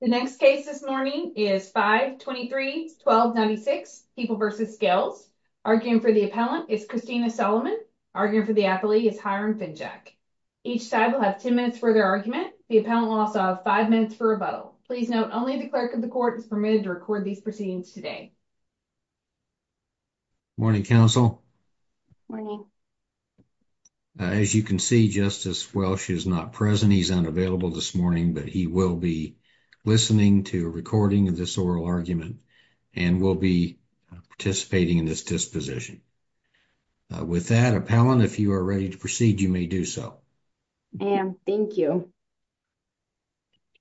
The next case this morning is 5 23 12 96 people versus scales. Arguing for the appellant is Christina Solomon. Arguing for the athlete is Hiram Finchak. Each side will have 10 minutes for their argument. The appellant will also have five minutes for rebuttal. Please note only the clerk of the court is permitted to record these proceedings today. Morning council morning. As you can see, Justice Welch is not present. He's unavailable this morning, but he will be listening to a recording of this oral argument and will be participating in this disposition with that appellant. If you are ready to proceed, you may do so. And thank you.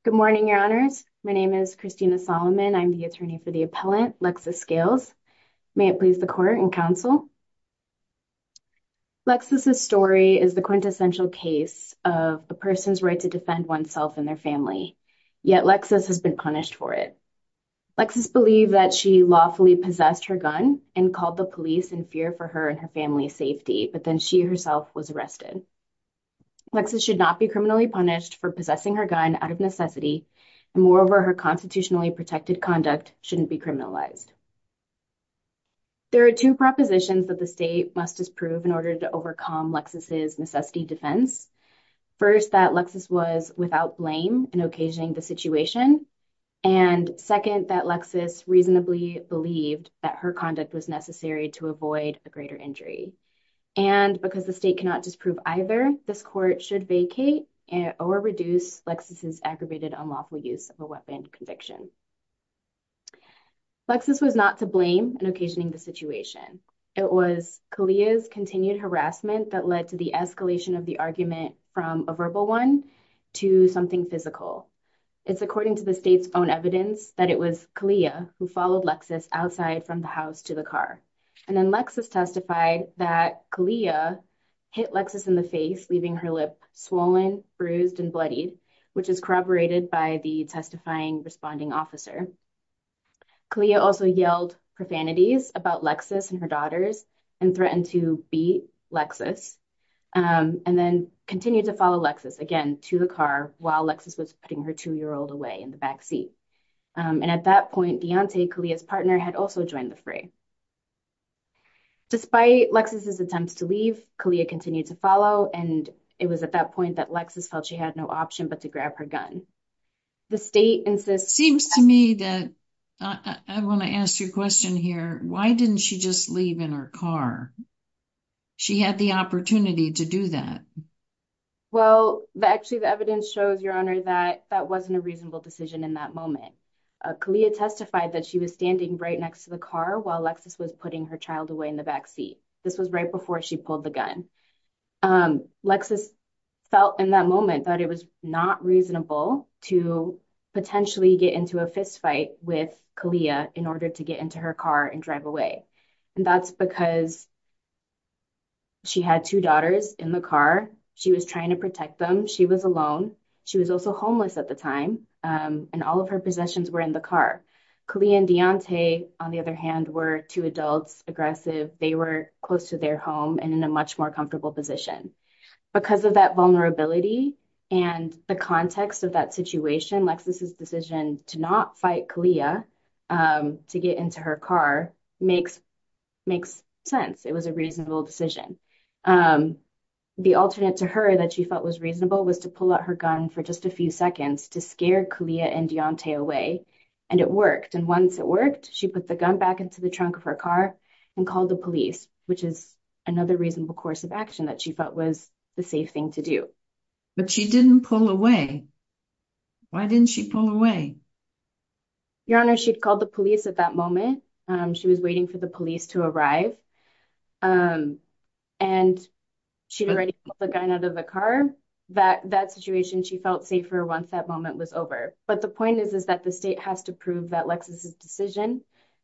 Good morning. Your honors. My name is Christina Solomon. I'm the attorney for the appellant Lexus scales. May it please the court and counsel. Lexus. This story is the quintessential case of a person's right to defend oneself and their family. Yet Lexus has been punished for it. Lexus believed that she lawfully possessed her gun and called the police in fear for her and her family's safety. But then she herself was arrested. Lexus should not be criminally punished for possessing her gun out of necessity. And moreover, her constitutionally protected conduct shouldn't be criminalized. There are two propositions that the state must disprove in order to overcome Lexus's necessity defense. First, that Lexus was without blame in occasioning the situation. And second, that Lexus reasonably believed that her conduct was necessary to avoid a greater injury. And because the state cannot disprove either, this court should vacate or reduce Lexus's aggravated unlawful use of a weapon conviction. Lexus was not to blame in occasioning the situation. It was Kahlia's continued harassment that led to the escalation of the argument from a verbal one to something physical. It's according to the state's own evidence that it was Kahlia who followed Lexus outside from the house to the car. And then Lexus testified that Kahlia hit Lexus in the face, leaving her lip swollen, bruised and bloodied, which is corroborated by the testifying responding officer. Kahlia also yelled profanities about Lexus and her daughters and threatened to beat Lexus and then continued to follow Lexus again to the car while Lexus was putting her two year old away in the backseat. And at that point, Deontay, Kahlia's partner, had also joined the fray. Despite Lexus's attempts to leave, Kahlia continued to follow and it was at that point that Lexus felt she had no option but to grab her gun. The state seems to me that I want to ask you a question here. Why didn't she just leave in her car? She had the opportunity to do that. Well, actually, the evidence shows your honor that that wasn't a reasonable decision in that moment. Kahlia testified that she was standing right next to the car while Lexus was putting her child away in the backseat. This was right before she pulled the gun. Lexus felt in that moment that it was not reasonable to potentially get into a fistfight with Kahlia in order to get into her car and drive away. And that's because she had two daughters in the car. She was trying to protect them. She was alone. She was also homeless at the time. And all of her possessions were in the car. Kahlia and Deontay, on the other hand, were two adults aggressive. They were close to their home and in a much more comfortable position. Because of that vulnerability and the context of that situation, Lexus's decision to not fight Kahlia to get into her car makes sense. It was a reasonable decision. The alternate to her that she felt was reasonable was to pull out her gun for just a few seconds to scare Kahlia and Deontay away. And it worked. And once it worked, she put the gun back into the trunk of her car and called the police, which is another reasonable course of action that she felt was the safe thing to do. But she didn't pull away. Why didn't she pull away? Your Honor, she'd called the police at that moment. She was waiting for the police to arrive. And she'd already pulled the gun out of the car. That situation, she felt safer once that moment was over. But the point is, is that the state has to prove that Lexus's decision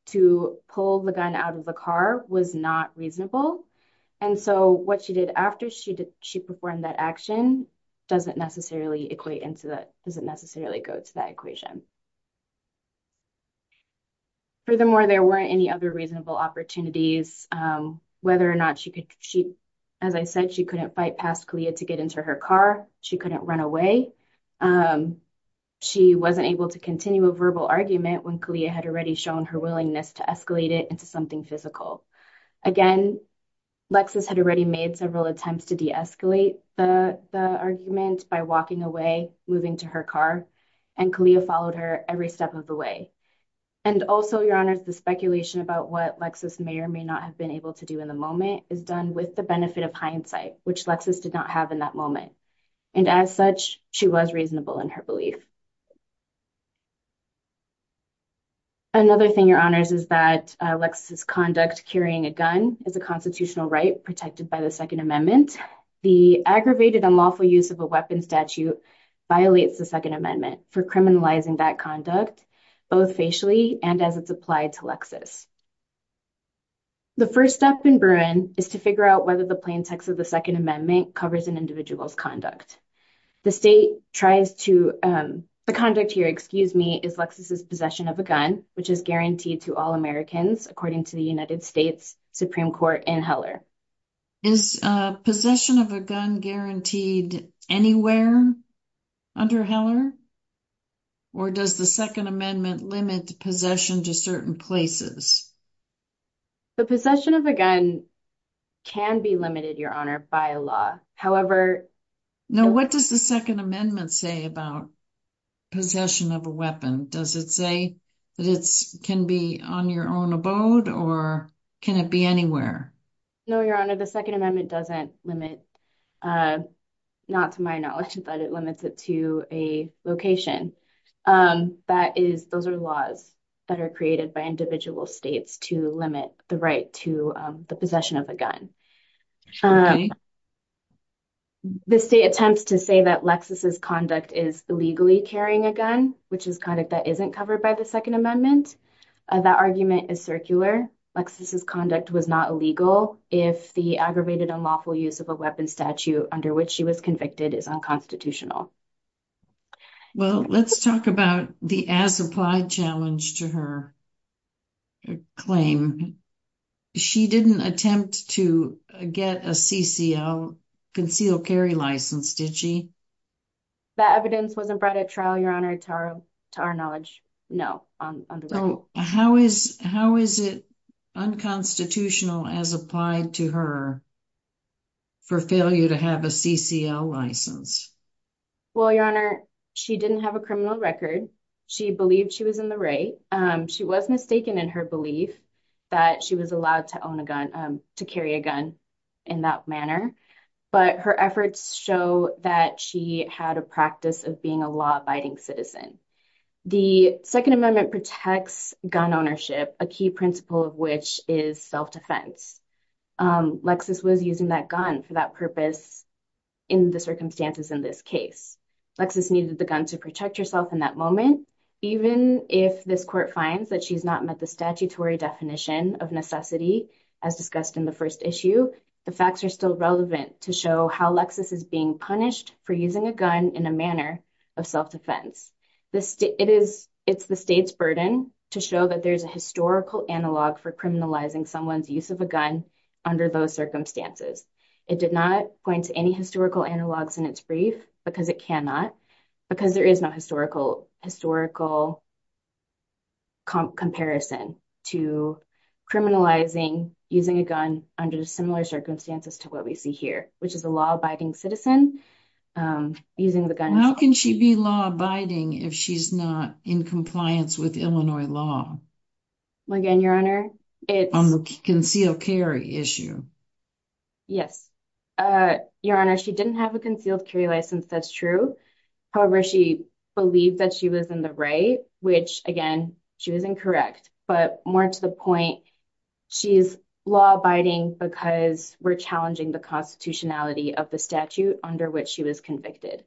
to pull the gun out of the car was not reasonable. And so what she did after she did, she performed that action doesn't necessarily equate into that, doesn't necessarily go to that equation. Furthermore, there weren't any other reasonable opportunities, whether or not she could, she, as I said, she couldn't fight past Kahlia to get into her car. She couldn't run away. She wasn't able to continue a verbal argument when Kahlia had already shown her willingness to escalate it into something physical. Again, Lexus had already made several attempts to deescalate the argument by walking away, moving to her car, and Kahlia followed her every step of the way. And also, Your Honor, the speculation about what Lexus may or may not have been able to do in the moment is done with the benefit of hindsight, which Lexus did not have in that moment. And as such, she was reasonable in her belief. Another thing, Your Honors, is that Lexus's conduct carrying a gun is a constitutional right protected by the Second Amendment. The aggravated unlawful use of a weapon statute violates the Second Amendment for criminalizing that conduct, both facially and as it's applied to Lexus. The first step in Bruin is to figure out whether the plaintext of the Second Amendment covers an individual's conduct. The state tries to, the conduct here, excuse me, is Lexus's possession of a gun, which is guaranteed to all Americans, according to the United States Supreme Court in Heller. Is possession of a gun guaranteed anywhere under Heller? Or does the Second Amendment limit possession to certain places? The possession of a gun can be limited, Your Honor, by a law. However... Now, what does the Second Amendment say about possession of a weapon? Does it say that it can be on your own abode, or can it be anywhere? No, Your Honor, the Second Amendment doesn't limit, not to my knowledge, but it limits it to a location. That is, those are laws that are created by individual states to limit the right to the possession of a gun. The state attempts to say that Lexus's conduct is illegally carrying a gun, which is conduct that isn't covered by the Second Amendment. That argument is circular. Lexus's conduct was not illegal if the aggravated unlawful use of a weapon statute under which she was convicted is unconstitutional. Well, let's talk about the as-applied challenge to her claim. She didn't attempt to get a CCL concealed carry license, did she? That evidence wasn't brought at trial, Your Honor, to our knowledge. No. How is it unconstitutional as applied to her for failure to have a CCL license? Well, Your Honor, she didn't have a criminal record. She believed she was in the right. She was mistaken in her belief that she was allowed to own a gun, to carry a gun in that manner. But her efforts show that she had a practice of being a law-abiding citizen. The Second Amendment protects gun ownership, a key principle of which is self-defense. Lexus was using that gun for that purpose in the circumstances in this case. Lexus needed the gun to protect herself in that moment. Even if this court finds that she's not met the statutory definition of necessity as discussed in the first issue, the facts are still relevant to show how Lexus is being punished for using a gun in a manner of self-defense. It's the state's burden to show that there's a historical analog for criminalizing someone's use of a gun under those circumstances. It did not go into any historical analogs in its brief because it cannot, because there is no historical comparison to criminalizing using a gun under similar circumstances to what we see here, which is a law-abiding citizen using the gun. How can she be law-abiding if she's not in compliance with Illinois law on the concealed carry issue? Yes, Your Honor, she didn't have a concealed carry license, that's true. However, she believed that she was in the right, which again, she was incorrect. But more to the point, she's law-abiding because we're challenging the constitutionality of the statute under which she was convicted.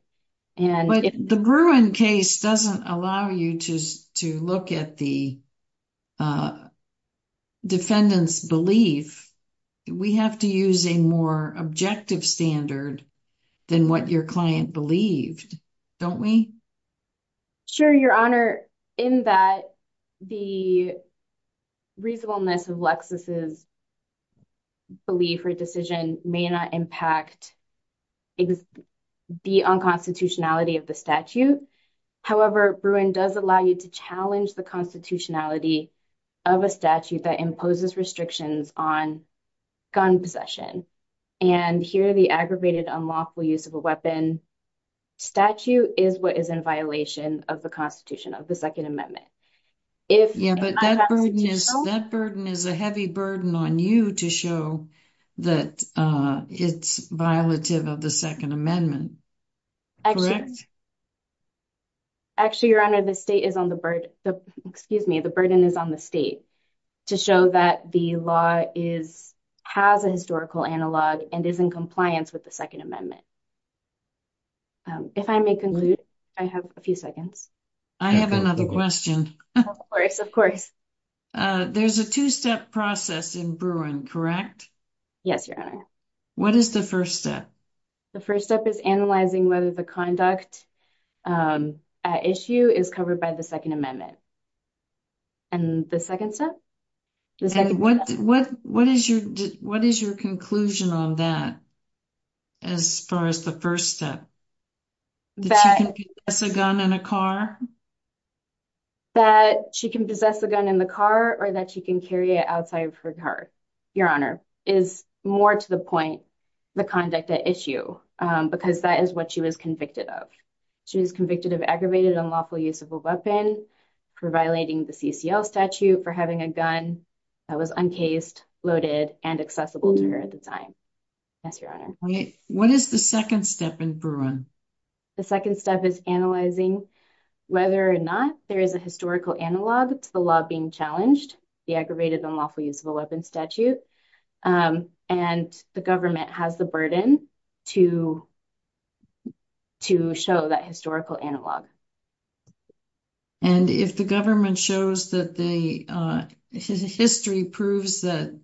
But the Bruin case doesn't allow you to look at the defendant's belief. We have to use a more objective standard than what your client believed, don't we? Sure, Your Honor, in that the reasonableness of Lexus's belief or decision may not impact the unconstitutionality of the statute. However, Bruin does allow you to challenge the constitutionality of a statute that imposes restrictions on gun possession. And here, the aggravated unlawful use of a weapon statute is what is in violation of the Constitution of the Second Amendment. Yeah, but that burden is a heavy burden on you to show that it's violative of the Second Amendment, correct? Actually, Your Honor, the state is on the burden, excuse me, the burden is on the state to show that the law has a historical analog and is in compliance with the Second Amendment. If I have another question. Of course, of course. There's a two-step process in Bruin, correct? Yes, Your Honor. What is the first step? The first step is analyzing whether the conduct at issue is covered by the Second Amendment. And the second step? What is your conclusion on that as far as the first step? That she can possess a gun in a car? That she can possess a gun in the car or that she can carry it outside of her car, Your Honor, is more to the point the conduct at issue because that is what she was convicted of. She was convicted of aggravated unlawful use of a weapon for violating the CCL statute for having a gun that was uncased, loaded, and accessible to her at the time. Yes, Your Honor. What is the second step in Bruin? The second step is analyzing whether or not there is a historical analog to the law being challenged, the aggravated unlawful use of a weapon statute, and the government has the burden to show that historical analog. And if the government shows that the history proves that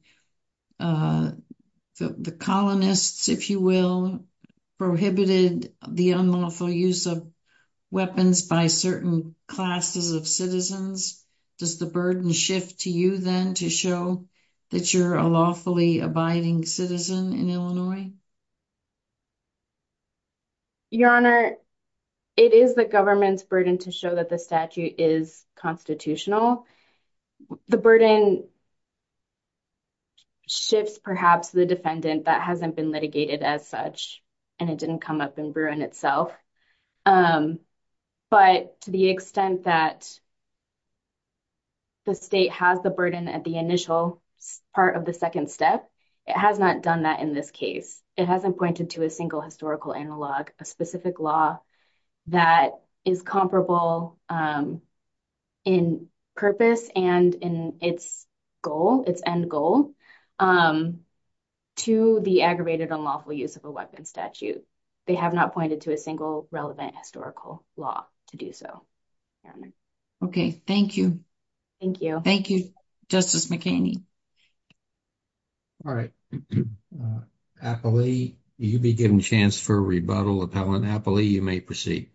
the colonists, if you will, prohibited the unlawful use of weapons by certain classes of citizens, does the burden shift to you then to show that you're a lawfully abiding citizen in Illinois? Your Honor, it is the government's burden to show that the statute is constitutional. The burden shifts perhaps the defendant that hasn't been litigated as such and it didn't come up in Bruin itself. But to the extent that the state has the burden at the initial part of the second step, it has not done that in this case. It hasn't pointed to a single historical analog, a specific law that is comparable in purpose and in its goal, its end goal, to the aggravated unlawful use of a weapon statute. They have not pointed to a single relevant historical law to do so. Okay, thank you. Thank you. Thank you, Justice McKinney. All right. Appley, you'll be given a chance for a rebuttal. Appellant Appley, you may proceed.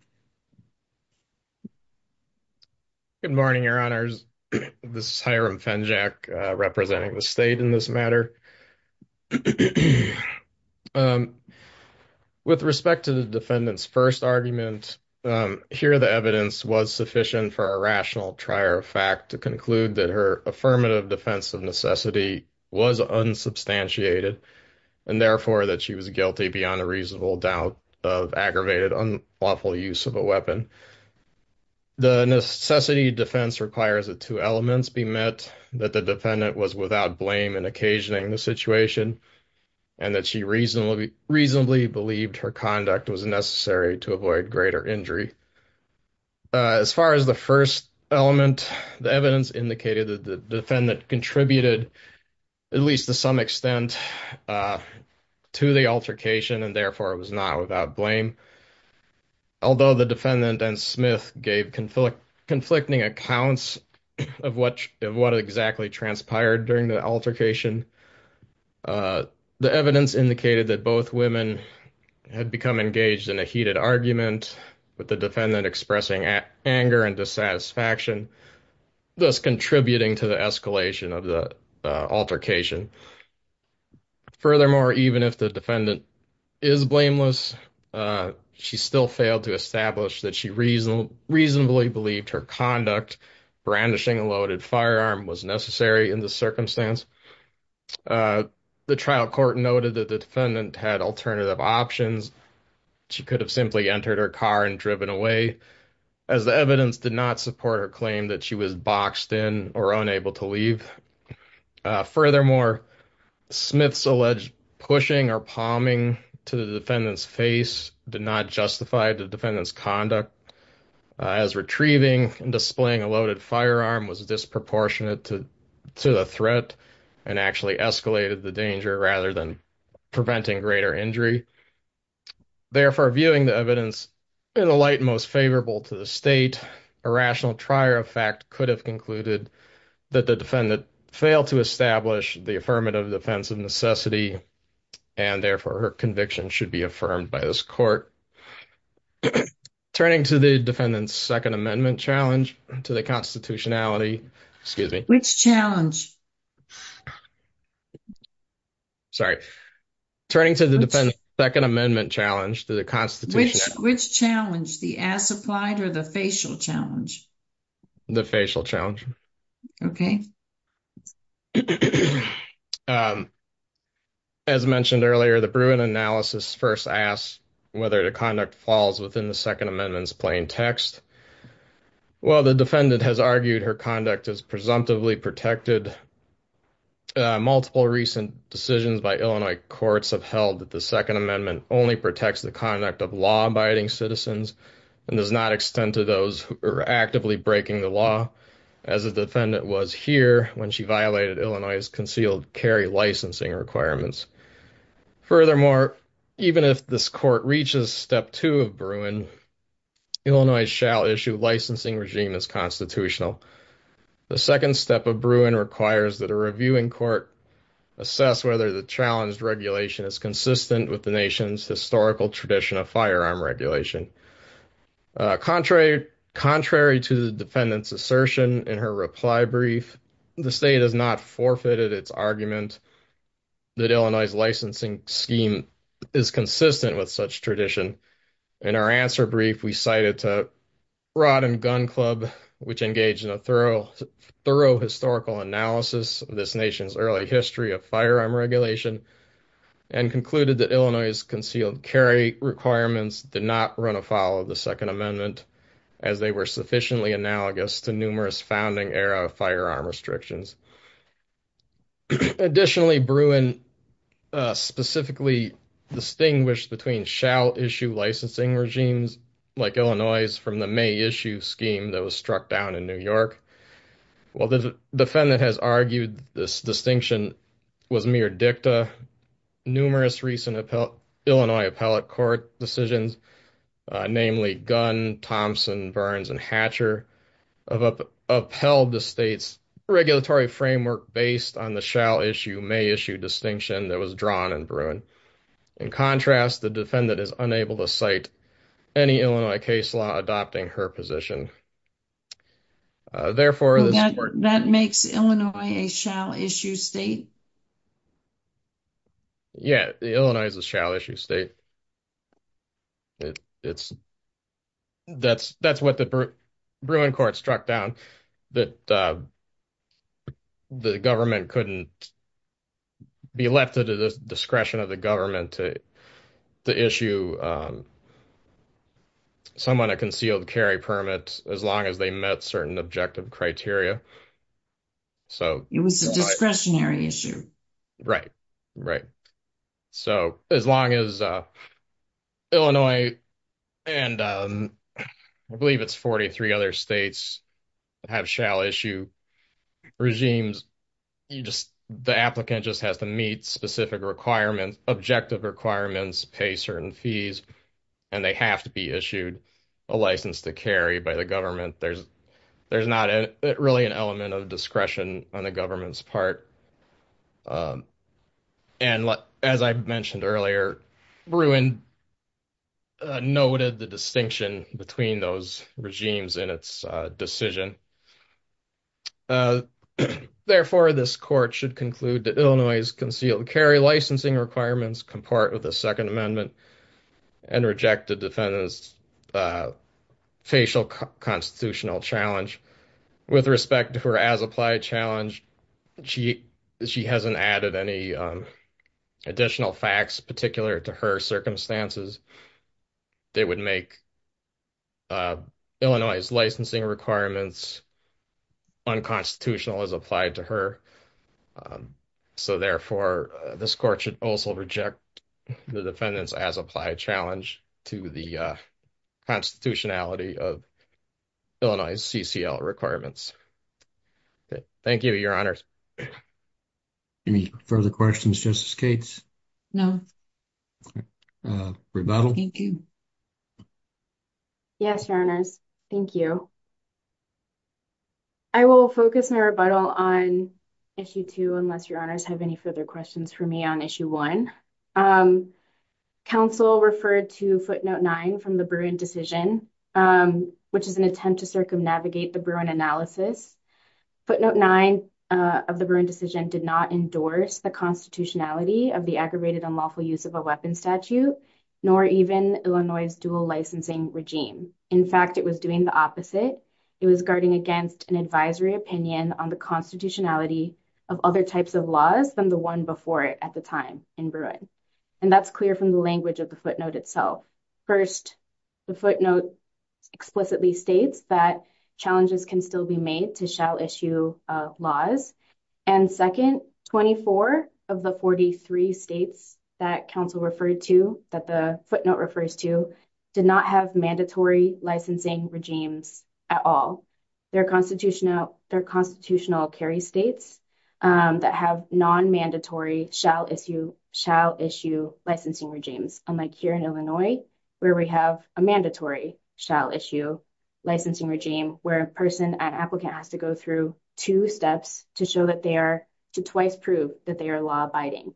Good morning, Your Honors. This is Hiram Fenjack representing the state in this matter. With respect to the defendant's first argument, here the evidence was sufficient for a rational trier of fact to conclude that her affirmative defense of necessity was unsubstantiated and therefore that she was guilty beyond a reasonable doubt of aggravated unlawful use of a weapon. The necessity defense requires that two elements be met, that the defendant was without blame in occasioning the situation and that she reasonably believed her conduct was necessary to avoid greater injury. As far as the first element, the evidence indicated that the defendant contributed at least to some extent to the altercation and therefore it was not without blame. Although the defendant and Smith gave conflicting accounts of what exactly transpired during the altercation, the evidence indicated that both women had become engaged in a heated argument with the defendant expressing anger and satisfaction, thus contributing to the escalation of the altercation. Furthermore, even if the defendant is blameless, she still failed to establish that she reasonably believed her conduct, brandishing a loaded firearm, was necessary in the circumstance. The trial court noted that the defendant had alternative options. She could have simply entered her car and driven away. As the evidence did not support her claim that she was boxed in or unable to leave. Furthermore, Smith's alleged pushing or palming to the defendant's face did not justify the defendant's conduct as retrieving and displaying a loaded firearm was disproportionate to the threat and actually escalated the danger rather than preventing greater injury. Therefore, viewing the evidence in the light most favorable to the state, a rational trier of fact could have concluded that the defendant failed to establish the affirmative defense of necessity and therefore her conviction should be affirmed by this court. Turning to the defendant's Second Amendment challenge to the constitutionality, excuse me. Which challenge? Sorry, turning to the defendant's Second Amendment challenge to the constitutionality. Which challenge? The ass applied or the facial challenge? The facial challenge. Okay. As mentioned earlier, the Bruin analysis first asked whether the conduct falls within the Second Amendment's plain text. Well, the defendant has argued her conduct is presumptively protected. Multiple recent decisions by Illinois courts have held that the Second Amendment only protects the conduct of law-abiding citizens and does not extend to those who are actively breaking the law, as the defendant was here when she violated Illinois's concealed carry licensing requirements. Furthermore, even if this court reaches Step 2 of Bruin, Illinois shall issue licensing regime as constitutional. The second step of Bruin requires that a reviewing court assess whether the challenged regulation is consistent with the nation's historical tradition of firearm regulation. Contrary to the defendant's assertion in her reply brief, the state has not forfeited its argument that Illinois's licensing scheme is consistent with such tradition. In our answer brief, we cited to Rod and Gun Club, which engaged in a thorough historical analysis of this nation's early history of firearm regulation and concluded that Illinois's concealed carry requirements did not run afoul of the Second Amendment as they were sufficiently analogous to numerous founding era firearm restrictions. Additionally, Bruin specifically distinguished between shall issue licensing regimes like Illinois's from the may issue scheme that was struck down in New York. While the defendant has argued this distinction was mere dicta, numerous recent Illinois appellate court decisions, namely Gun, Thompson, Burns, and Hatcher, have upheld the state's regulatory framework based on the shall issue may issue distinction that was drawn in Bruin. In contrast, the state's shall issue may issue distinction that is unable to cite any Illinois case law adopting her position. Therefore, that makes Illinois a shall issue state? Yeah, Illinois is a shall issue state. That's what the Bruin court struck down, that the government couldn't be left at the discretion of the government to issue someone a concealed carry permit as long as they met certain objective criteria. It was a discretionary issue. Right, right. So as long as Illinois and I believe it's 43 other states have shall issue regimes, you just, the applicant just has to meet specific requirements, objective requirements, pay certain fees, and they have to be issued a license to carry by the government. There's not really an element of discretion on the government's part. And as I mentioned earlier, Bruin noted the distinction between those regimes in its decision. Therefore, this court should conclude that Illinois's concealed carry licensing requirements compart with the Second Amendment and reject the defendant's facial constitutional challenge. With respect to her as-applied challenge, she hasn't added any additional facts particular to her circumstances that would make Illinois's licensing requirements unconstitutional as applied to her. So therefore, this court should also reject the defendant's as-applied challenge to the constitutionality of Illinois's CCL requirements. Thank you, Your Honors. Any further questions, Justice Cates? No. Rebuttal? Thank you. Yes, Your Honors. Thank you. I will focus my rebuttal on Issue 2 unless Your Honors have any further questions for me on Issue 1. Counsel referred to Footnote 9 from the Bruin decision, which is an attempt to circumnavigate the Bruin analysis. Footnote 9 of the Bruin decision did not endorse the constitutionality of the aggravated unlawful use of a weapons statute, nor even Illinois's dual licensing regime. In fact, it was doing the opposite. It was guarding against an advisory opinion on the constitutionality of other types of laws than the one before it at the time in the Bruin. And that's clear from the language of the footnote itself. First, the footnote explicitly states that challenges can still be made to shall issue laws. And second, 24 of the 43 states that counsel referred to, that the footnote refers to, did not have mandatory licensing regimes at all. Their constitutional carry states that have non-mandatory shall issue licensing regimes, unlike here in Illinois, where we have a mandatory shall issue licensing regime, where a person, an applicant, has to go through two steps to show that they are, to twice prove that they are law-abiding.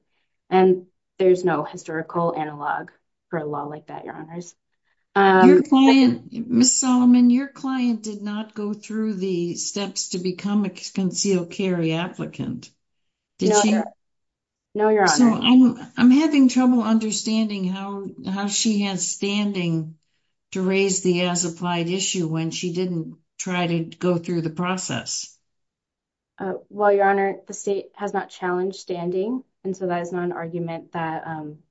And there's no historical analog for a law like that, Your Honors. Ms. Solomon, your client did not go through the steps to become a concealed carry applicant. No, Your Honor. I'm having trouble understanding how she has standing to raise the as-applied issue when she didn't try to go through the process. Well, Your Honor, the state has not challenged standing, and so that is not an argument that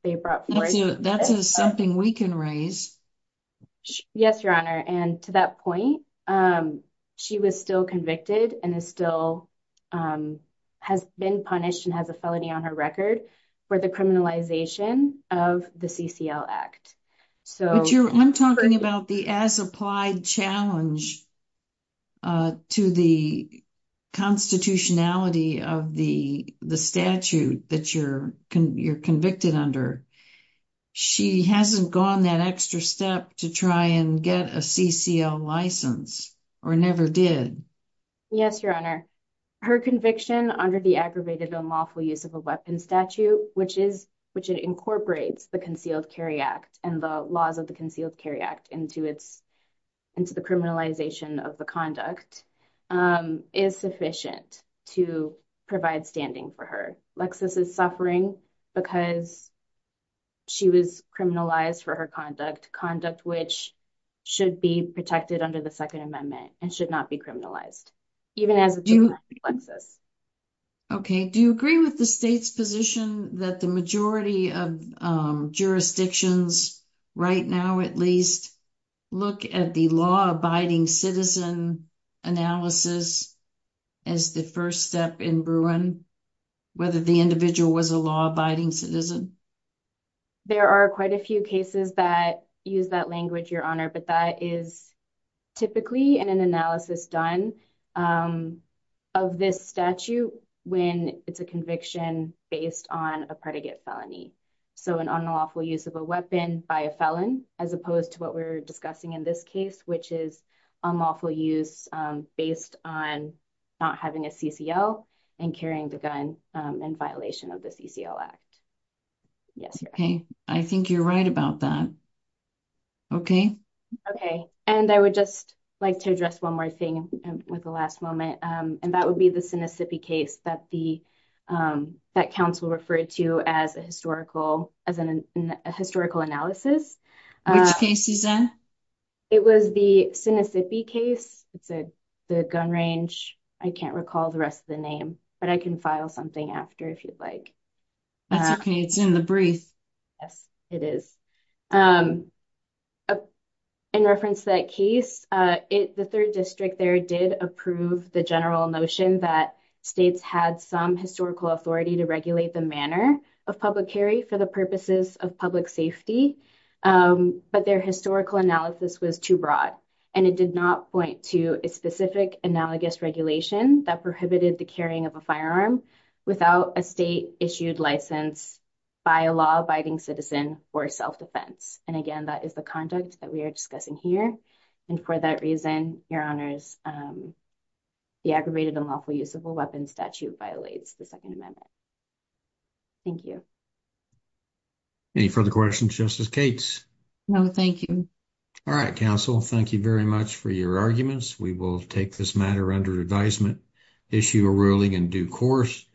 they brought forth. That's something we can raise. Yes, Your Honor, and to that point, she was still convicted and is still, has been punished and has a felony on her record for the criminalization of the CCL Act. So, I'm talking about the as-applied challenge to the constitutionality of the statute that you're convicted under. She hasn't gone that extra step to try and get a CCL license, or never did. Yes, Your Honor, her conviction under the aggravated unlawful use of a weapons statute, which is, which it incorporates the Concealed Carry Act and the laws of the Concealed Carry Act into its, into the criminalization of the conduct, is sufficient to provide standing for her. Lexis is suffering because she was criminalized for her conduct, conduct which should be protected under the Second Amendment and should not be criminalized, even as it should not be, Lexis. Okay, do you agree with the state's position that the majority of jurisdictions, right now at least, look at the law-abiding citizen analysis as the first step in Bruin, whether the individual was a law-abiding citizen? There are quite a few cases that use that language, Your Honor, but that is typically in an analysis done of this statute when it's a conviction based on a predicate felony. So, an unlawful use of a weapon by a felon, as opposed to what we're discussing in this case, which is unlawful use based on not having a CCL and carrying the gun in violation of the CCL Act. Yes, Your Honor. Okay, I think you're right about that. Okay. Okay, and I would just like to address one more thing with the last moment, and that would be the Sinisippi case that the, that counsel referred to as a historical, as a historical analysis. Which case, Suzanne? It was the Sinisippi case. It's a, the gun range, I can't recall the rest of the name, but I can file something after if you'd like. That's okay, it's in the brief. Yes, it is. In reference to that case, it, the third district there did approve the general notion that states had some historical authority to regulate the manner of public carry for the purposes of public safety, but their historical analysis was too broad, and it did not point to a specific analogous regulation that prohibited the carrying of a firearm without a state-issued license by a law-abiding citizen for self-defense. And again, that is the conduct that we are discussing here, and for that reason, Your Honors, the aggravated unlawful use of a weapon statute violates the Second Amendment. Thank you. Any further questions, Justice Cates? No, thank you. All right, counsel, thank you very much for your arguments. We will take this matter under advisement, issue a ruling in due course.